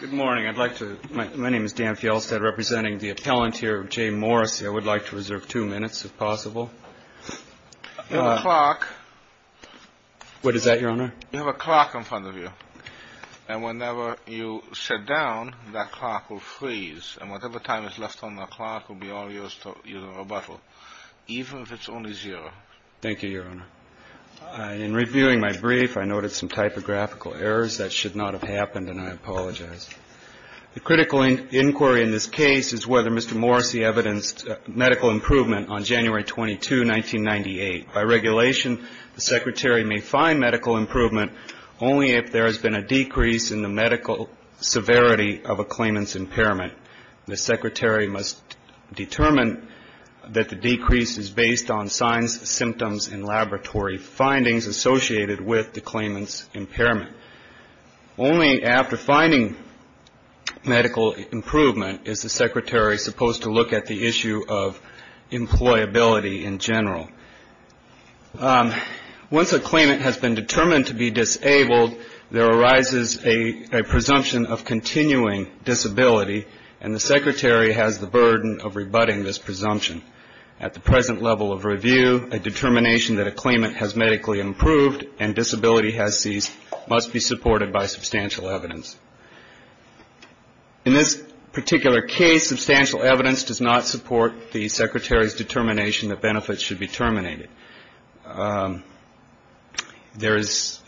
Good morning. I'd like to, my name is Dan Fjelstad, representing the appellant here, Jay Morrissey. I would like to reserve two minutes if possible. You have a clock. What is that, Your Honor? You have a clock in front of you, and whenever you sit down, that clock will freeze, and whatever time is left on that clock will be all yours to use in rebuttal, even if it's only zero. Thank you, Your Honor. In reviewing my brief, I noted some typographical errors. That should not have happened, and I apologize. The critical inquiry in this case is whether Mr. Morrissey evidenced medical improvement on January 22, 1998. By regulation, the Secretary may find medical improvement only if there has been a decrease in the medical severity of a claimant's impairment. The Secretary must determine that the decrease is based on signs, symptoms, and laboratory findings associated with the claimant's impairment. Only after finding medical improvement is the Secretary supposed to look at the issue of employability in general. Once a claimant has been determined to be disabled, there arises a presumption of continuing disability, and the Secretary has the burden of rebutting this presumption. At the present level of review, a determination that a claimant has medically improved and disability has ceased must be supported by substantial evidence. In this particular case, substantial evidence does not support the Secretary's determination that benefits should be terminated. There is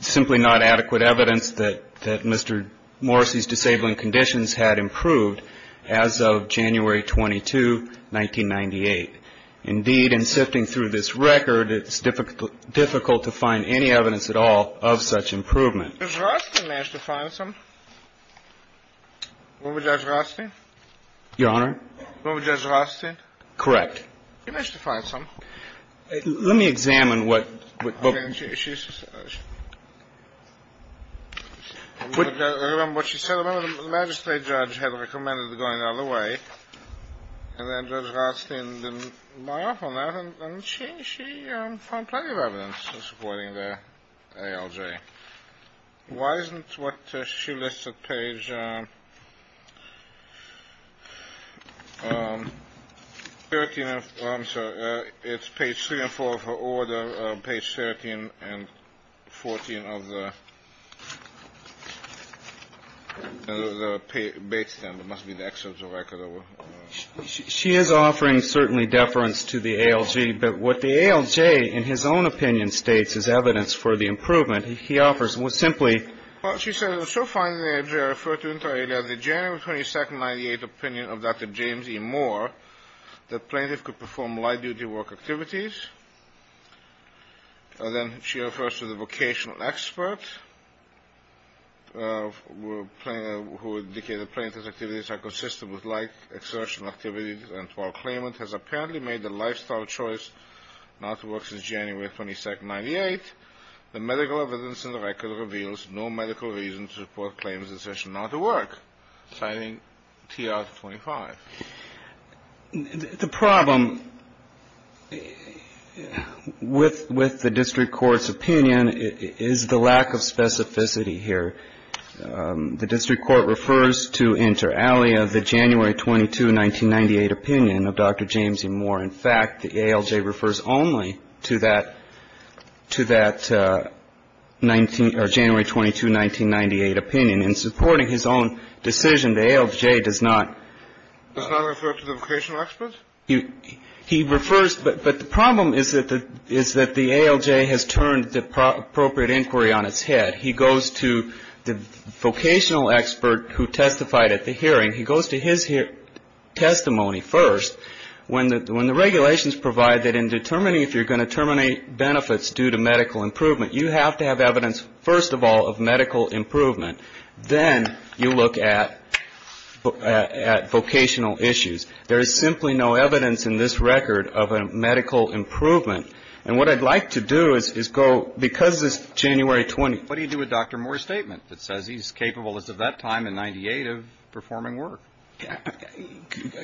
simply not adequate evidence that Mr. Morrissey's disabling conditions had improved as of January 22, 1998. Indeed, in sifting through this record, it's difficult to find any evidence at all of such improvement. In this particular case, Mr. Morrissey's disabling conditions had improved as of January 22, 1998. Indeed, in sifting through this record, it's difficult to find any evidence at all of such improvement. Why isn't what she lists at page 13, I'm sorry, it's page 3 and 4 of her order, page 13 and 14 of the base stamp. It must be the excerpt of the record. She is offering certainly deference to the ALJ, but what the ALJ in his own opinion states is evidence for the improvement. He offers simply. Well, she said it was so finely referred to in the January 22, 1998 opinion of Dr. James E. Moore that plaintiffs could perform light-duty work activities. And then she refers to the vocational expert who indicated plaintiffs' activities are consistent with light exertion activities, and while claimant has apparently made the lifestyle choice not to work since January 22, 1998, the medical evidence in the record reveals no medical reason to report claimant's decision not to work, citing TR 25. The problem with the district court's opinion is the lack of specificity here. The district court refers to inter alia the January 22, 1998 opinion of Dr. James E. Moore. In fact, the ALJ refers only to that January 22, 1998 opinion. In supporting his own decision, the ALJ does not. Does not refer to the vocational expert? He refers, but the problem is that the ALJ has turned the appropriate inquiry on its head. He goes to the vocational expert who testified at the hearing. He goes to his testimony first. When the regulations provide that in determining if you're going to terminate benefits due to medical improvement, you have to have evidence, first of all, of medical improvement. Then you look at vocational issues. There is simply no evidence in this record of a medical improvement. And what I'd like to do is go, because it's January 20th. What do you do with Dr. Moore's statement that says he's capable as of that time in 1998 of performing work?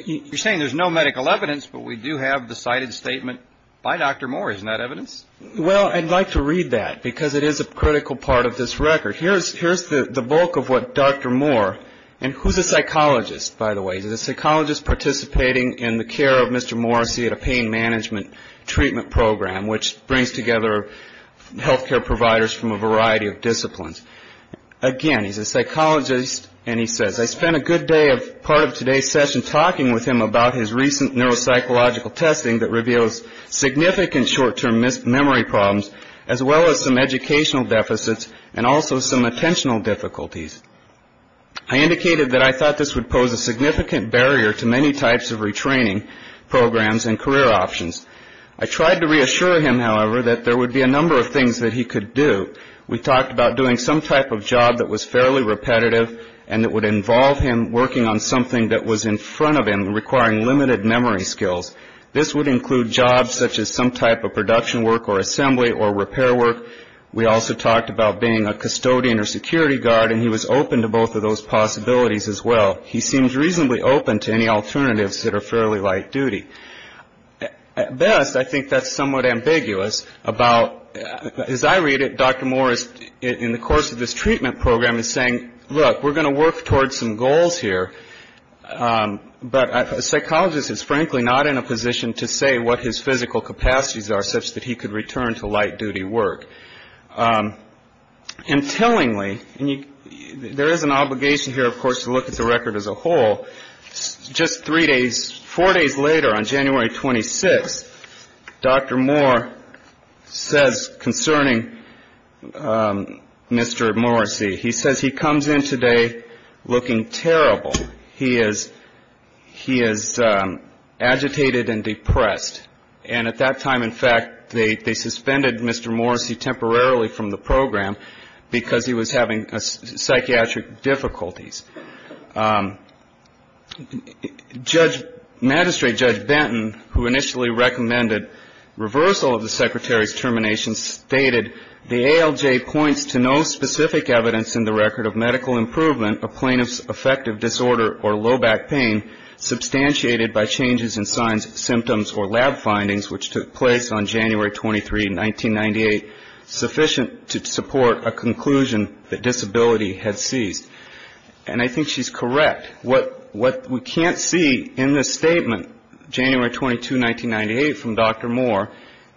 You're saying there's no medical evidence, but we do have the cited statement by Dr. Moore. Isn't that evidence? Well, I'd like to read that, because it is a critical part of this record. Here's the bulk of what Dr. Moore, and who's a psychologist, by the way? He's a psychologist participating in the care of Mr. Morrissey at a pain management treatment program, which brings together health care providers from a variety of disciplines. Again, he's a psychologist, and he says, I spent a good part of today's session talking with him about his recent neuropsychological testing that reveals significant short-term memory problems as well as some educational deficits and also some attentional difficulties. I indicated that I thought this would pose a significant barrier to many types of retraining programs and career options. I tried to reassure him, however, that there would be a number of things that he could do. We talked about doing some type of job that was fairly repetitive and that would involve him working on something that was in front of him requiring limited memory skills. This would include jobs such as some type of production work or assembly or repair work. We also talked about being a custodian or security guard, and he was open to both of those possibilities as well. He seems reasonably open to any alternatives that are fairly light duty. At best, I think that's somewhat ambiguous about, as I read it, Dr. Moore is, in the course of this treatment program, is saying, look, we're going to work towards some goals here, but a psychologist is frankly not in a position to say what his physical capacities are such that he could return to light duty work. Intellingly, there is an obligation here, of course, to look at the record as a whole. Just three days, four days later on January 26th, Dr. Moore says concerning Mr. Morrissey, he says he comes in today looking terrible. He is agitated and depressed. And at that time, in fact, they suspended Mr. Morrissey temporarily from the program because he was having psychiatric difficulties. Magistrate Judge Benton, who initially recommended reversal of the secretary's termination, the ALJ points to no specific evidence in the record of medical improvement of plaintiff's affective disorder or low back pain substantiated by changes in signs, symptoms, or lab findings, which took place on January 23, 1998, sufficient to support a conclusion that disability had ceased. And I think she's correct. What we can't see in this statement, January 22, 1998, from Dr. Moore,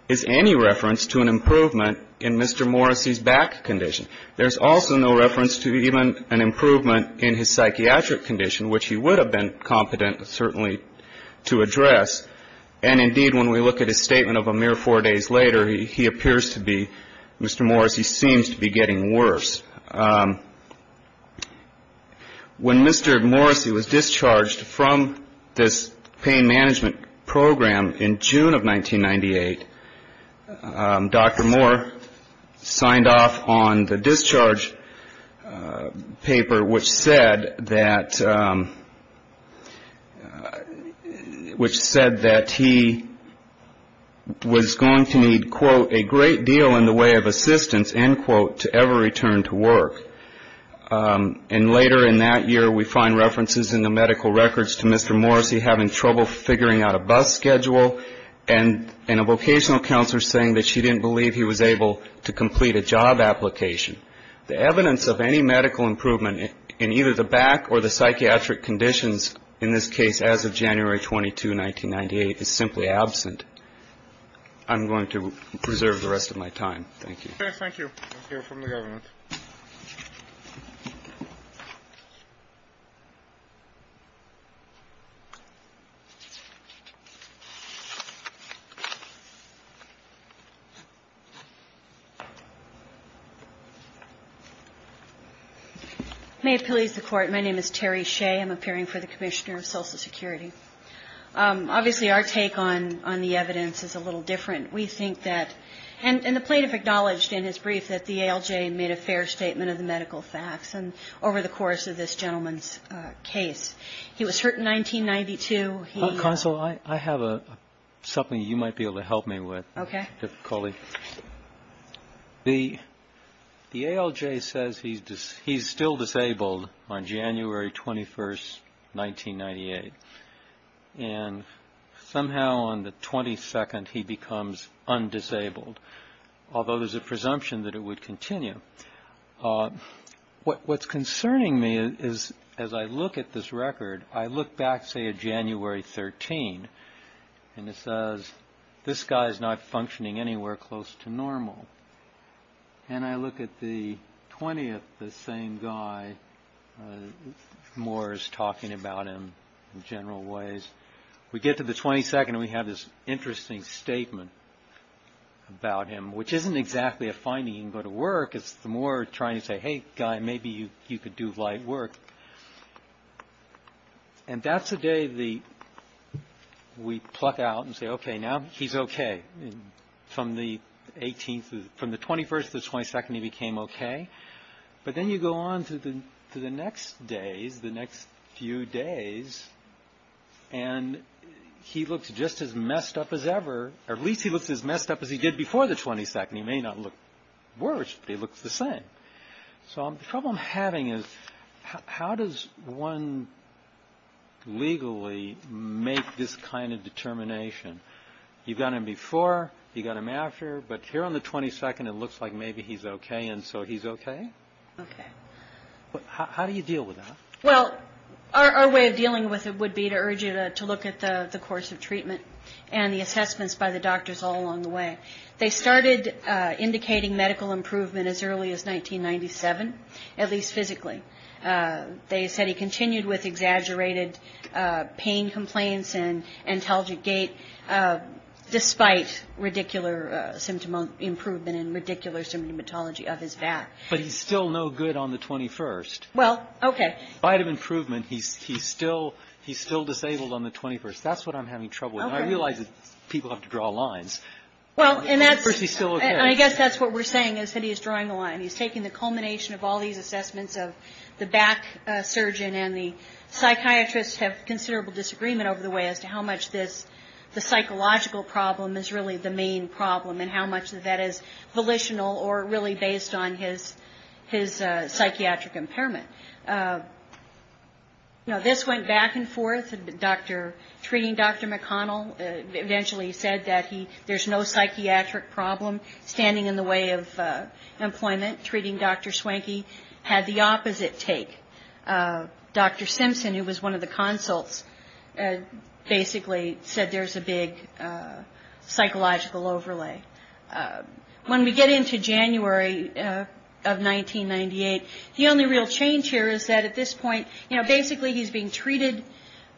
is any reference to an improvement in Mr. Morrissey's back condition. There's also no reference to even an improvement in his psychiatric condition, which he would have been competent, certainly, to address. And indeed, when we look at his statement of a mere four days later, he appears to be, Mr. Morrissey seems to be getting worse. When Mr. Morrissey was discharged from this pain management program in June of 1998, Dr. Moore signed off on the discharge paper, which said that he was going to need, quote, a great deal in the way of assistance, end quote, to ever return to work. And later in that year, we find references in the medical records to Mr. Morrissey having trouble figuring out a bus schedule and a vocational counselor saying that she didn't believe he was able to complete a job application. The evidence of any medical improvement in either the back or the psychiatric conditions in this case as of January 22, 1998, is simply absent. I'm going to preserve the rest of my time. Thank you. Thank you. Thank you from the government. May it please the Court. My name is Terry Shea. I'm appearing for the Commissioner of Social Security. Obviously, our take on the evidence is a little different. We think that, and the plaintiff acknowledged in his brief that the ALJ made a fair statement of the medical facts. And over the course of this gentleman's case, he was hurt in 1992. Counsel, I have something you might be able to help me with. Okay. The ALJ says he's still disabled on January 21, 1998. And somehow on the 22nd, he becomes undisabled, although there's a presumption that it would continue. What's concerning me is as I look at this record, I look back, say, at January 13, and it says this guy is not functioning anywhere close to normal. And I look at the 20th, the same guy. Moore is talking about him in general ways. We get to the 22nd, and we have this interesting statement about him, which isn't exactly a finding. You can go to work. It's Moore trying to say, hey, guy, maybe you could do light work. And that's the day we pluck out and say, okay, now he's okay. From the 21st to the 22nd, he became okay. But then you go on to the next days, the next few days, and he looks just as messed up as ever. At least he looks as messed up as he did before the 22nd. He may not look worse, but he looks the same. So the problem I'm having is how does one legally make this kind of determination? You've got him before. You've got him after. But here on the 22nd, it looks like maybe he's okay, and so he's okay? Okay. How do you deal with that? Well, our way of dealing with it would be to urge you to look at the course of treatment and the assessments by the doctors all along the way. They started indicating medical improvement as early as 1997, at least physically. They said he continued with exaggerated pain complaints and antelogic gait, despite ridiculous symptom improvement and ridiculous symptomatology of his back. But he's still no good on the 21st. Well, okay. By the improvement, he's still disabled on the 21st. That's what I'm having trouble with. I realize that people have to draw lines. Well, and that's what we're saying is that he's drawing the line. He's taking the culmination of all these assessments of the back surgeon and the psychiatrist have considerable disagreement over the way as to how much this, the psychological problem is really the main problem and how much of that is volitional or really based on his psychiatric impairment. You know, this went back and forth. Treating Dr. McConnell eventually said that there's no psychiatric problem. Standing in the way of employment, treating Dr. Swanky had the opposite take. Dr. Simpson, who was one of the consults, basically said there's a big psychological overlay. When we get into January of 1998, the only real change here is that at this point, you know, we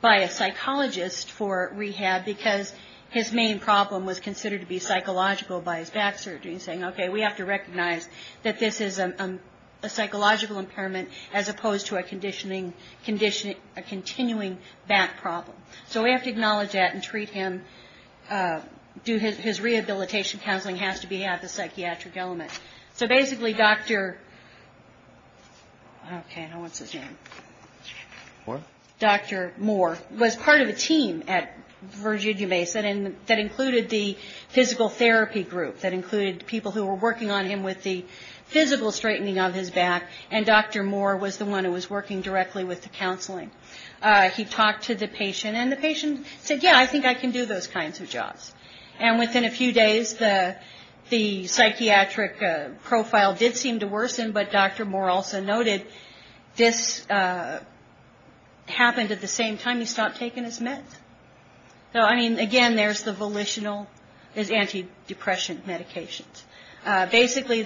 apply a psychologist for rehab because his main problem was considered to be psychological by his back surgery. He's saying, okay, we have to recognize that this is a psychological impairment as opposed to a continuing back problem. So we have to acknowledge that and treat him. His rehabilitation counseling has to have the psychiatric element. So basically, Dr. Moore was part of a team at Virginia Mason that included the physical therapy group, that included people who were working on him with the physical straightening of his back, and Dr. Moore was the one who was working directly with the counseling. He talked to the patient and the patient said, yeah, I think I can do those kinds of jobs. And within a few days, the psychiatric profile did seem to worsen, but Dr. Moore also noted this happened at the same time he stopped taking his meds. So, I mean, again, there's the volitional, there's antidepressant medications. Basically,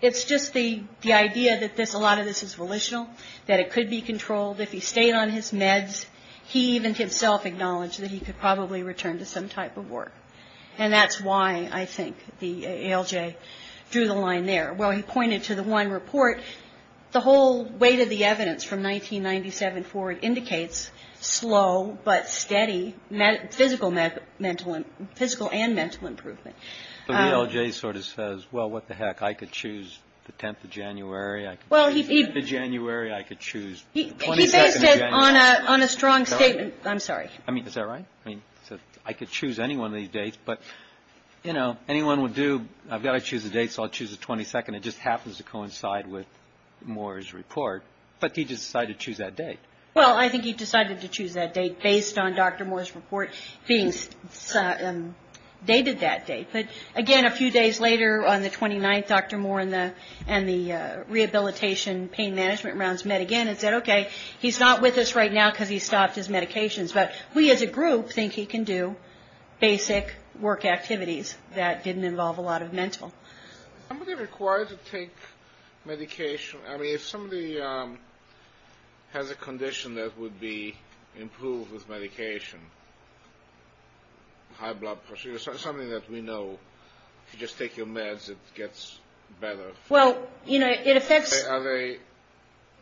it's just the idea that a lot of this is volitional, that it could be controlled. If he stayed on his meds, he even himself acknowledged that he could probably return to some type of work. And that's why I think the ALJ drew the line there. While he pointed to the one report, the whole weight of the evidence from 1997 forward indicates slow but steady physical and mental improvement. The ALJ sort of says, well, what the heck, I could choose the 10th of January. I could choose the 10th of January. I could choose the 22nd of January. He based it on a strong statement. I'm sorry. I mean, is that right? I mean, I could choose any one of these dates, but, you know, anyone would do, I've got to choose a date, so I'll choose the 22nd. It just happens to coincide with Moore's report. But he decided to choose that date. Well, I think he decided to choose that date based on Dr. Moore's report being dated that date. But, again, a few days later on the 29th, Dr. Moore and the rehabilitation pain management rounds met again and said, okay, he's not with us right now because he stopped his medications. But we as a group think he can do basic work activities that didn't involve a lot of mental. Somebody required to take medication. I mean, if somebody has a condition that would be improved with medication, high blood pressure, something that we know, if you just take your meds, it gets better. Well, you know, it affects. Are they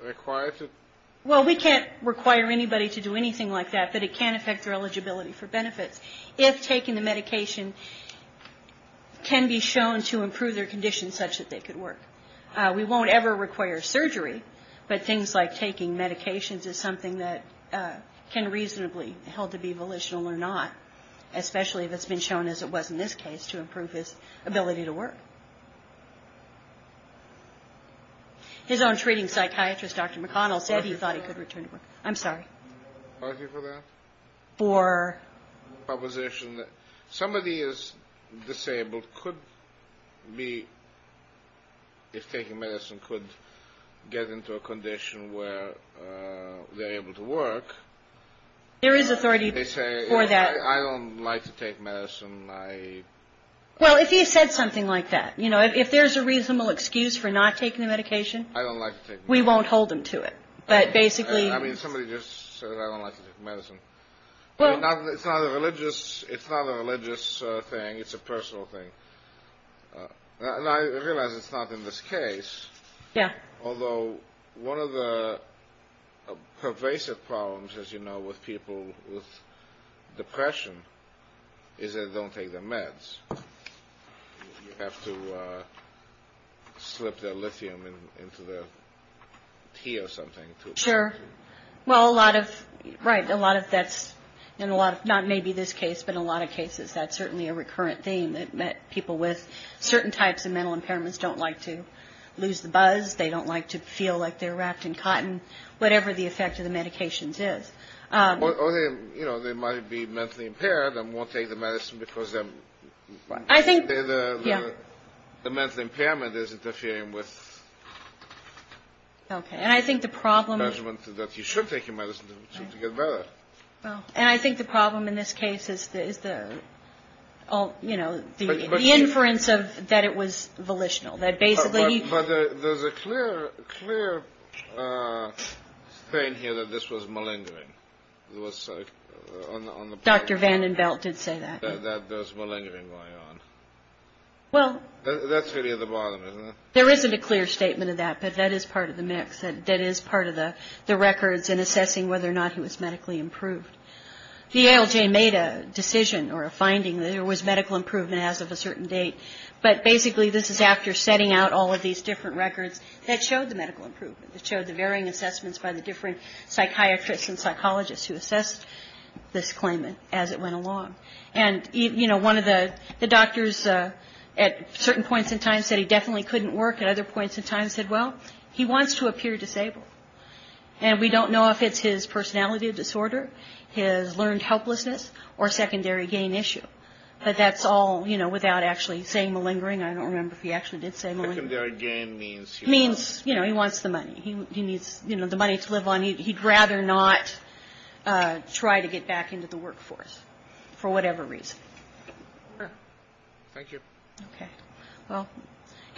required to? Well, we can't require anybody to do anything like that, but it can affect their eligibility for benefits. If taking the medication can be shown to improve their condition such that they could work. We won't ever require surgery, but things like taking medications is something that can reasonably be held to be volitional or not, especially if it's been shown, as it was in this case, to improve his ability to work. His own treating psychiatrist, Dr. McConnell, said he thought he could return to work. I'm sorry. Are you for that? For? Proposition that somebody is disabled could be, if taking medicine, could get into a condition where they're able to work. There is authority for that. They say, I don't like to take medicine. Well, if you said something like that, you know, if there's a reasonable excuse for not taking the medication. I don't like to take medicine. We won't hold them to it. But basically. I mean, somebody just said I don't like to take medicine. Well. It's not a religious thing. It's a personal thing. And I realize it's not in this case. Yeah. Although one of the pervasive problems, as you know, with people with depression is they don't take their meds. You have to slip their lithium into their tea or something. Sure. Well, a lot of. Right. A lot of that's in a lot of not maybe this case, but a lot of cases, that's certainly a recurrent theme that people with certain types of mental impairments don't like to lose the buzz. They don't like to feel like they're wrapped in cotton, whatever the effect of the medications is. You know, they might be mentally impaired and won't take the medicine because I think the mental impairment is interfering with. OK. And I think the problem is that you should take your medicine to get better. And I think the problem in this case is the. Oh, you know, the inference of that it was volitional. There's a clear, clear thing here that this was malingering. It was like Dr. VandenBelt did say that there's malingering going on. Well, that's really the bottom. There isn't a clear statement of that. But that is part of the mix. That is part of the records in assessing whether or not he was medically improved. The ALJ made a decision or a finding that there was medical improvement as of a certain date. But basically, this is after setting out all of these different records that showed the medical improvement. It showed the varying assessments by the different psychiatrists and psychologists who assessed this claimant as it went along. And, you know, one of the doctors at certain points in time said he definitely couldn't work. At other points in time said, well, he wants to appear disabled. And we don't know if it's his personality disorder, his learned helplessness or secondary gain issue. But that's all, you know, without actually saying malingering. I don't remember if he actually did say malingering. Secondary gain means he wants. Means, you know, he wants the money. He needs, you know, the money to live on. He'd rather not try to get back into the workforce for whatever reason. Sure. Thank you. Okay. Well,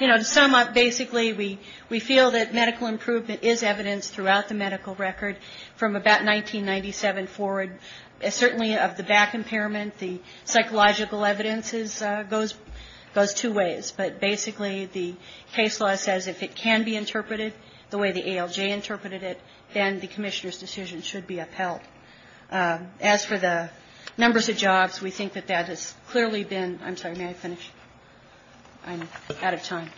you know, to sum up, basically, we feel that medical improvement is evidence throughout the medical record from about 1997 forward. Certainly of the back impairment, the psychological evidence goes two ways. But basically, the case law says if it can be interpreted the way the ALJ interpreted it, then the Commissioner's decision should be upheld. As for the numbers of jobs, we think that that has clearly been ‑‑ I'm sorry, may I finish? I'm out of time.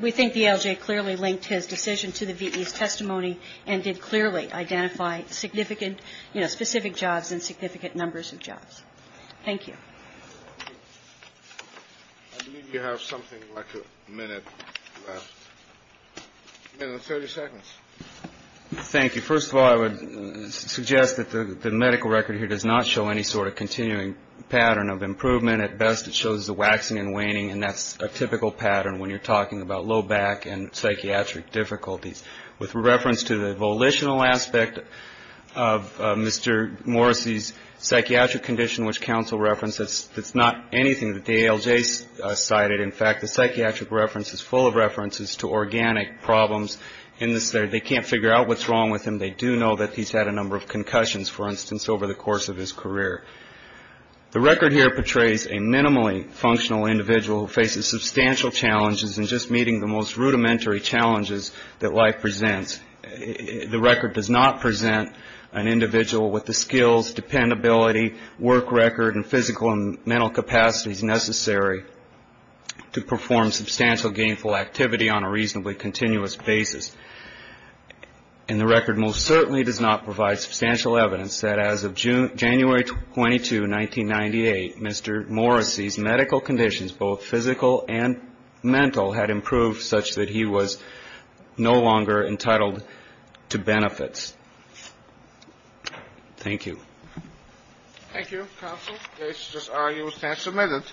We think the ALJ clearly linked his decision to the V.E.'s testimony and did clearly identify significant, you know, specific jobs and significant numbers of jobs. Thank you. I believe you have something like a minute left. A minute and 30 seconds. Thank you. First of all, I would suggest that the medical record here does not show any sort of continuing pattern of improvement. At best, it shows the waxing and waning, and that's a typical pattern when you're talking about low back and psychiatric difficulties. With reference to the volitional aspect of Mr. Morrissey's psychiatric condition, which counsel referenced, it's not anything that the ALJ cited. In fact, the psychiatric reference is full of references to organic problems. They can't figure out what's wrong with him. They do know that he's had a number of concussions, for instance, over the course of his career. The record here portrays a minimally functional individual who faces substantial challenges in just meeting the most rudimentary challenges that life presents. The record does not present an individual with the skills, dependability, work record, and physical and mental capacities necessary to perform substantial gainful activity on a reasonably continuous basis. And the record most certainly does not provide substantial evidence that as of January 22, 1998, Mr. Morrissey's medical conditions, both physical and mental, had improved such that he was no longer entitled to benefits. Thank you. Thank you, counsel. This argument stands submitted.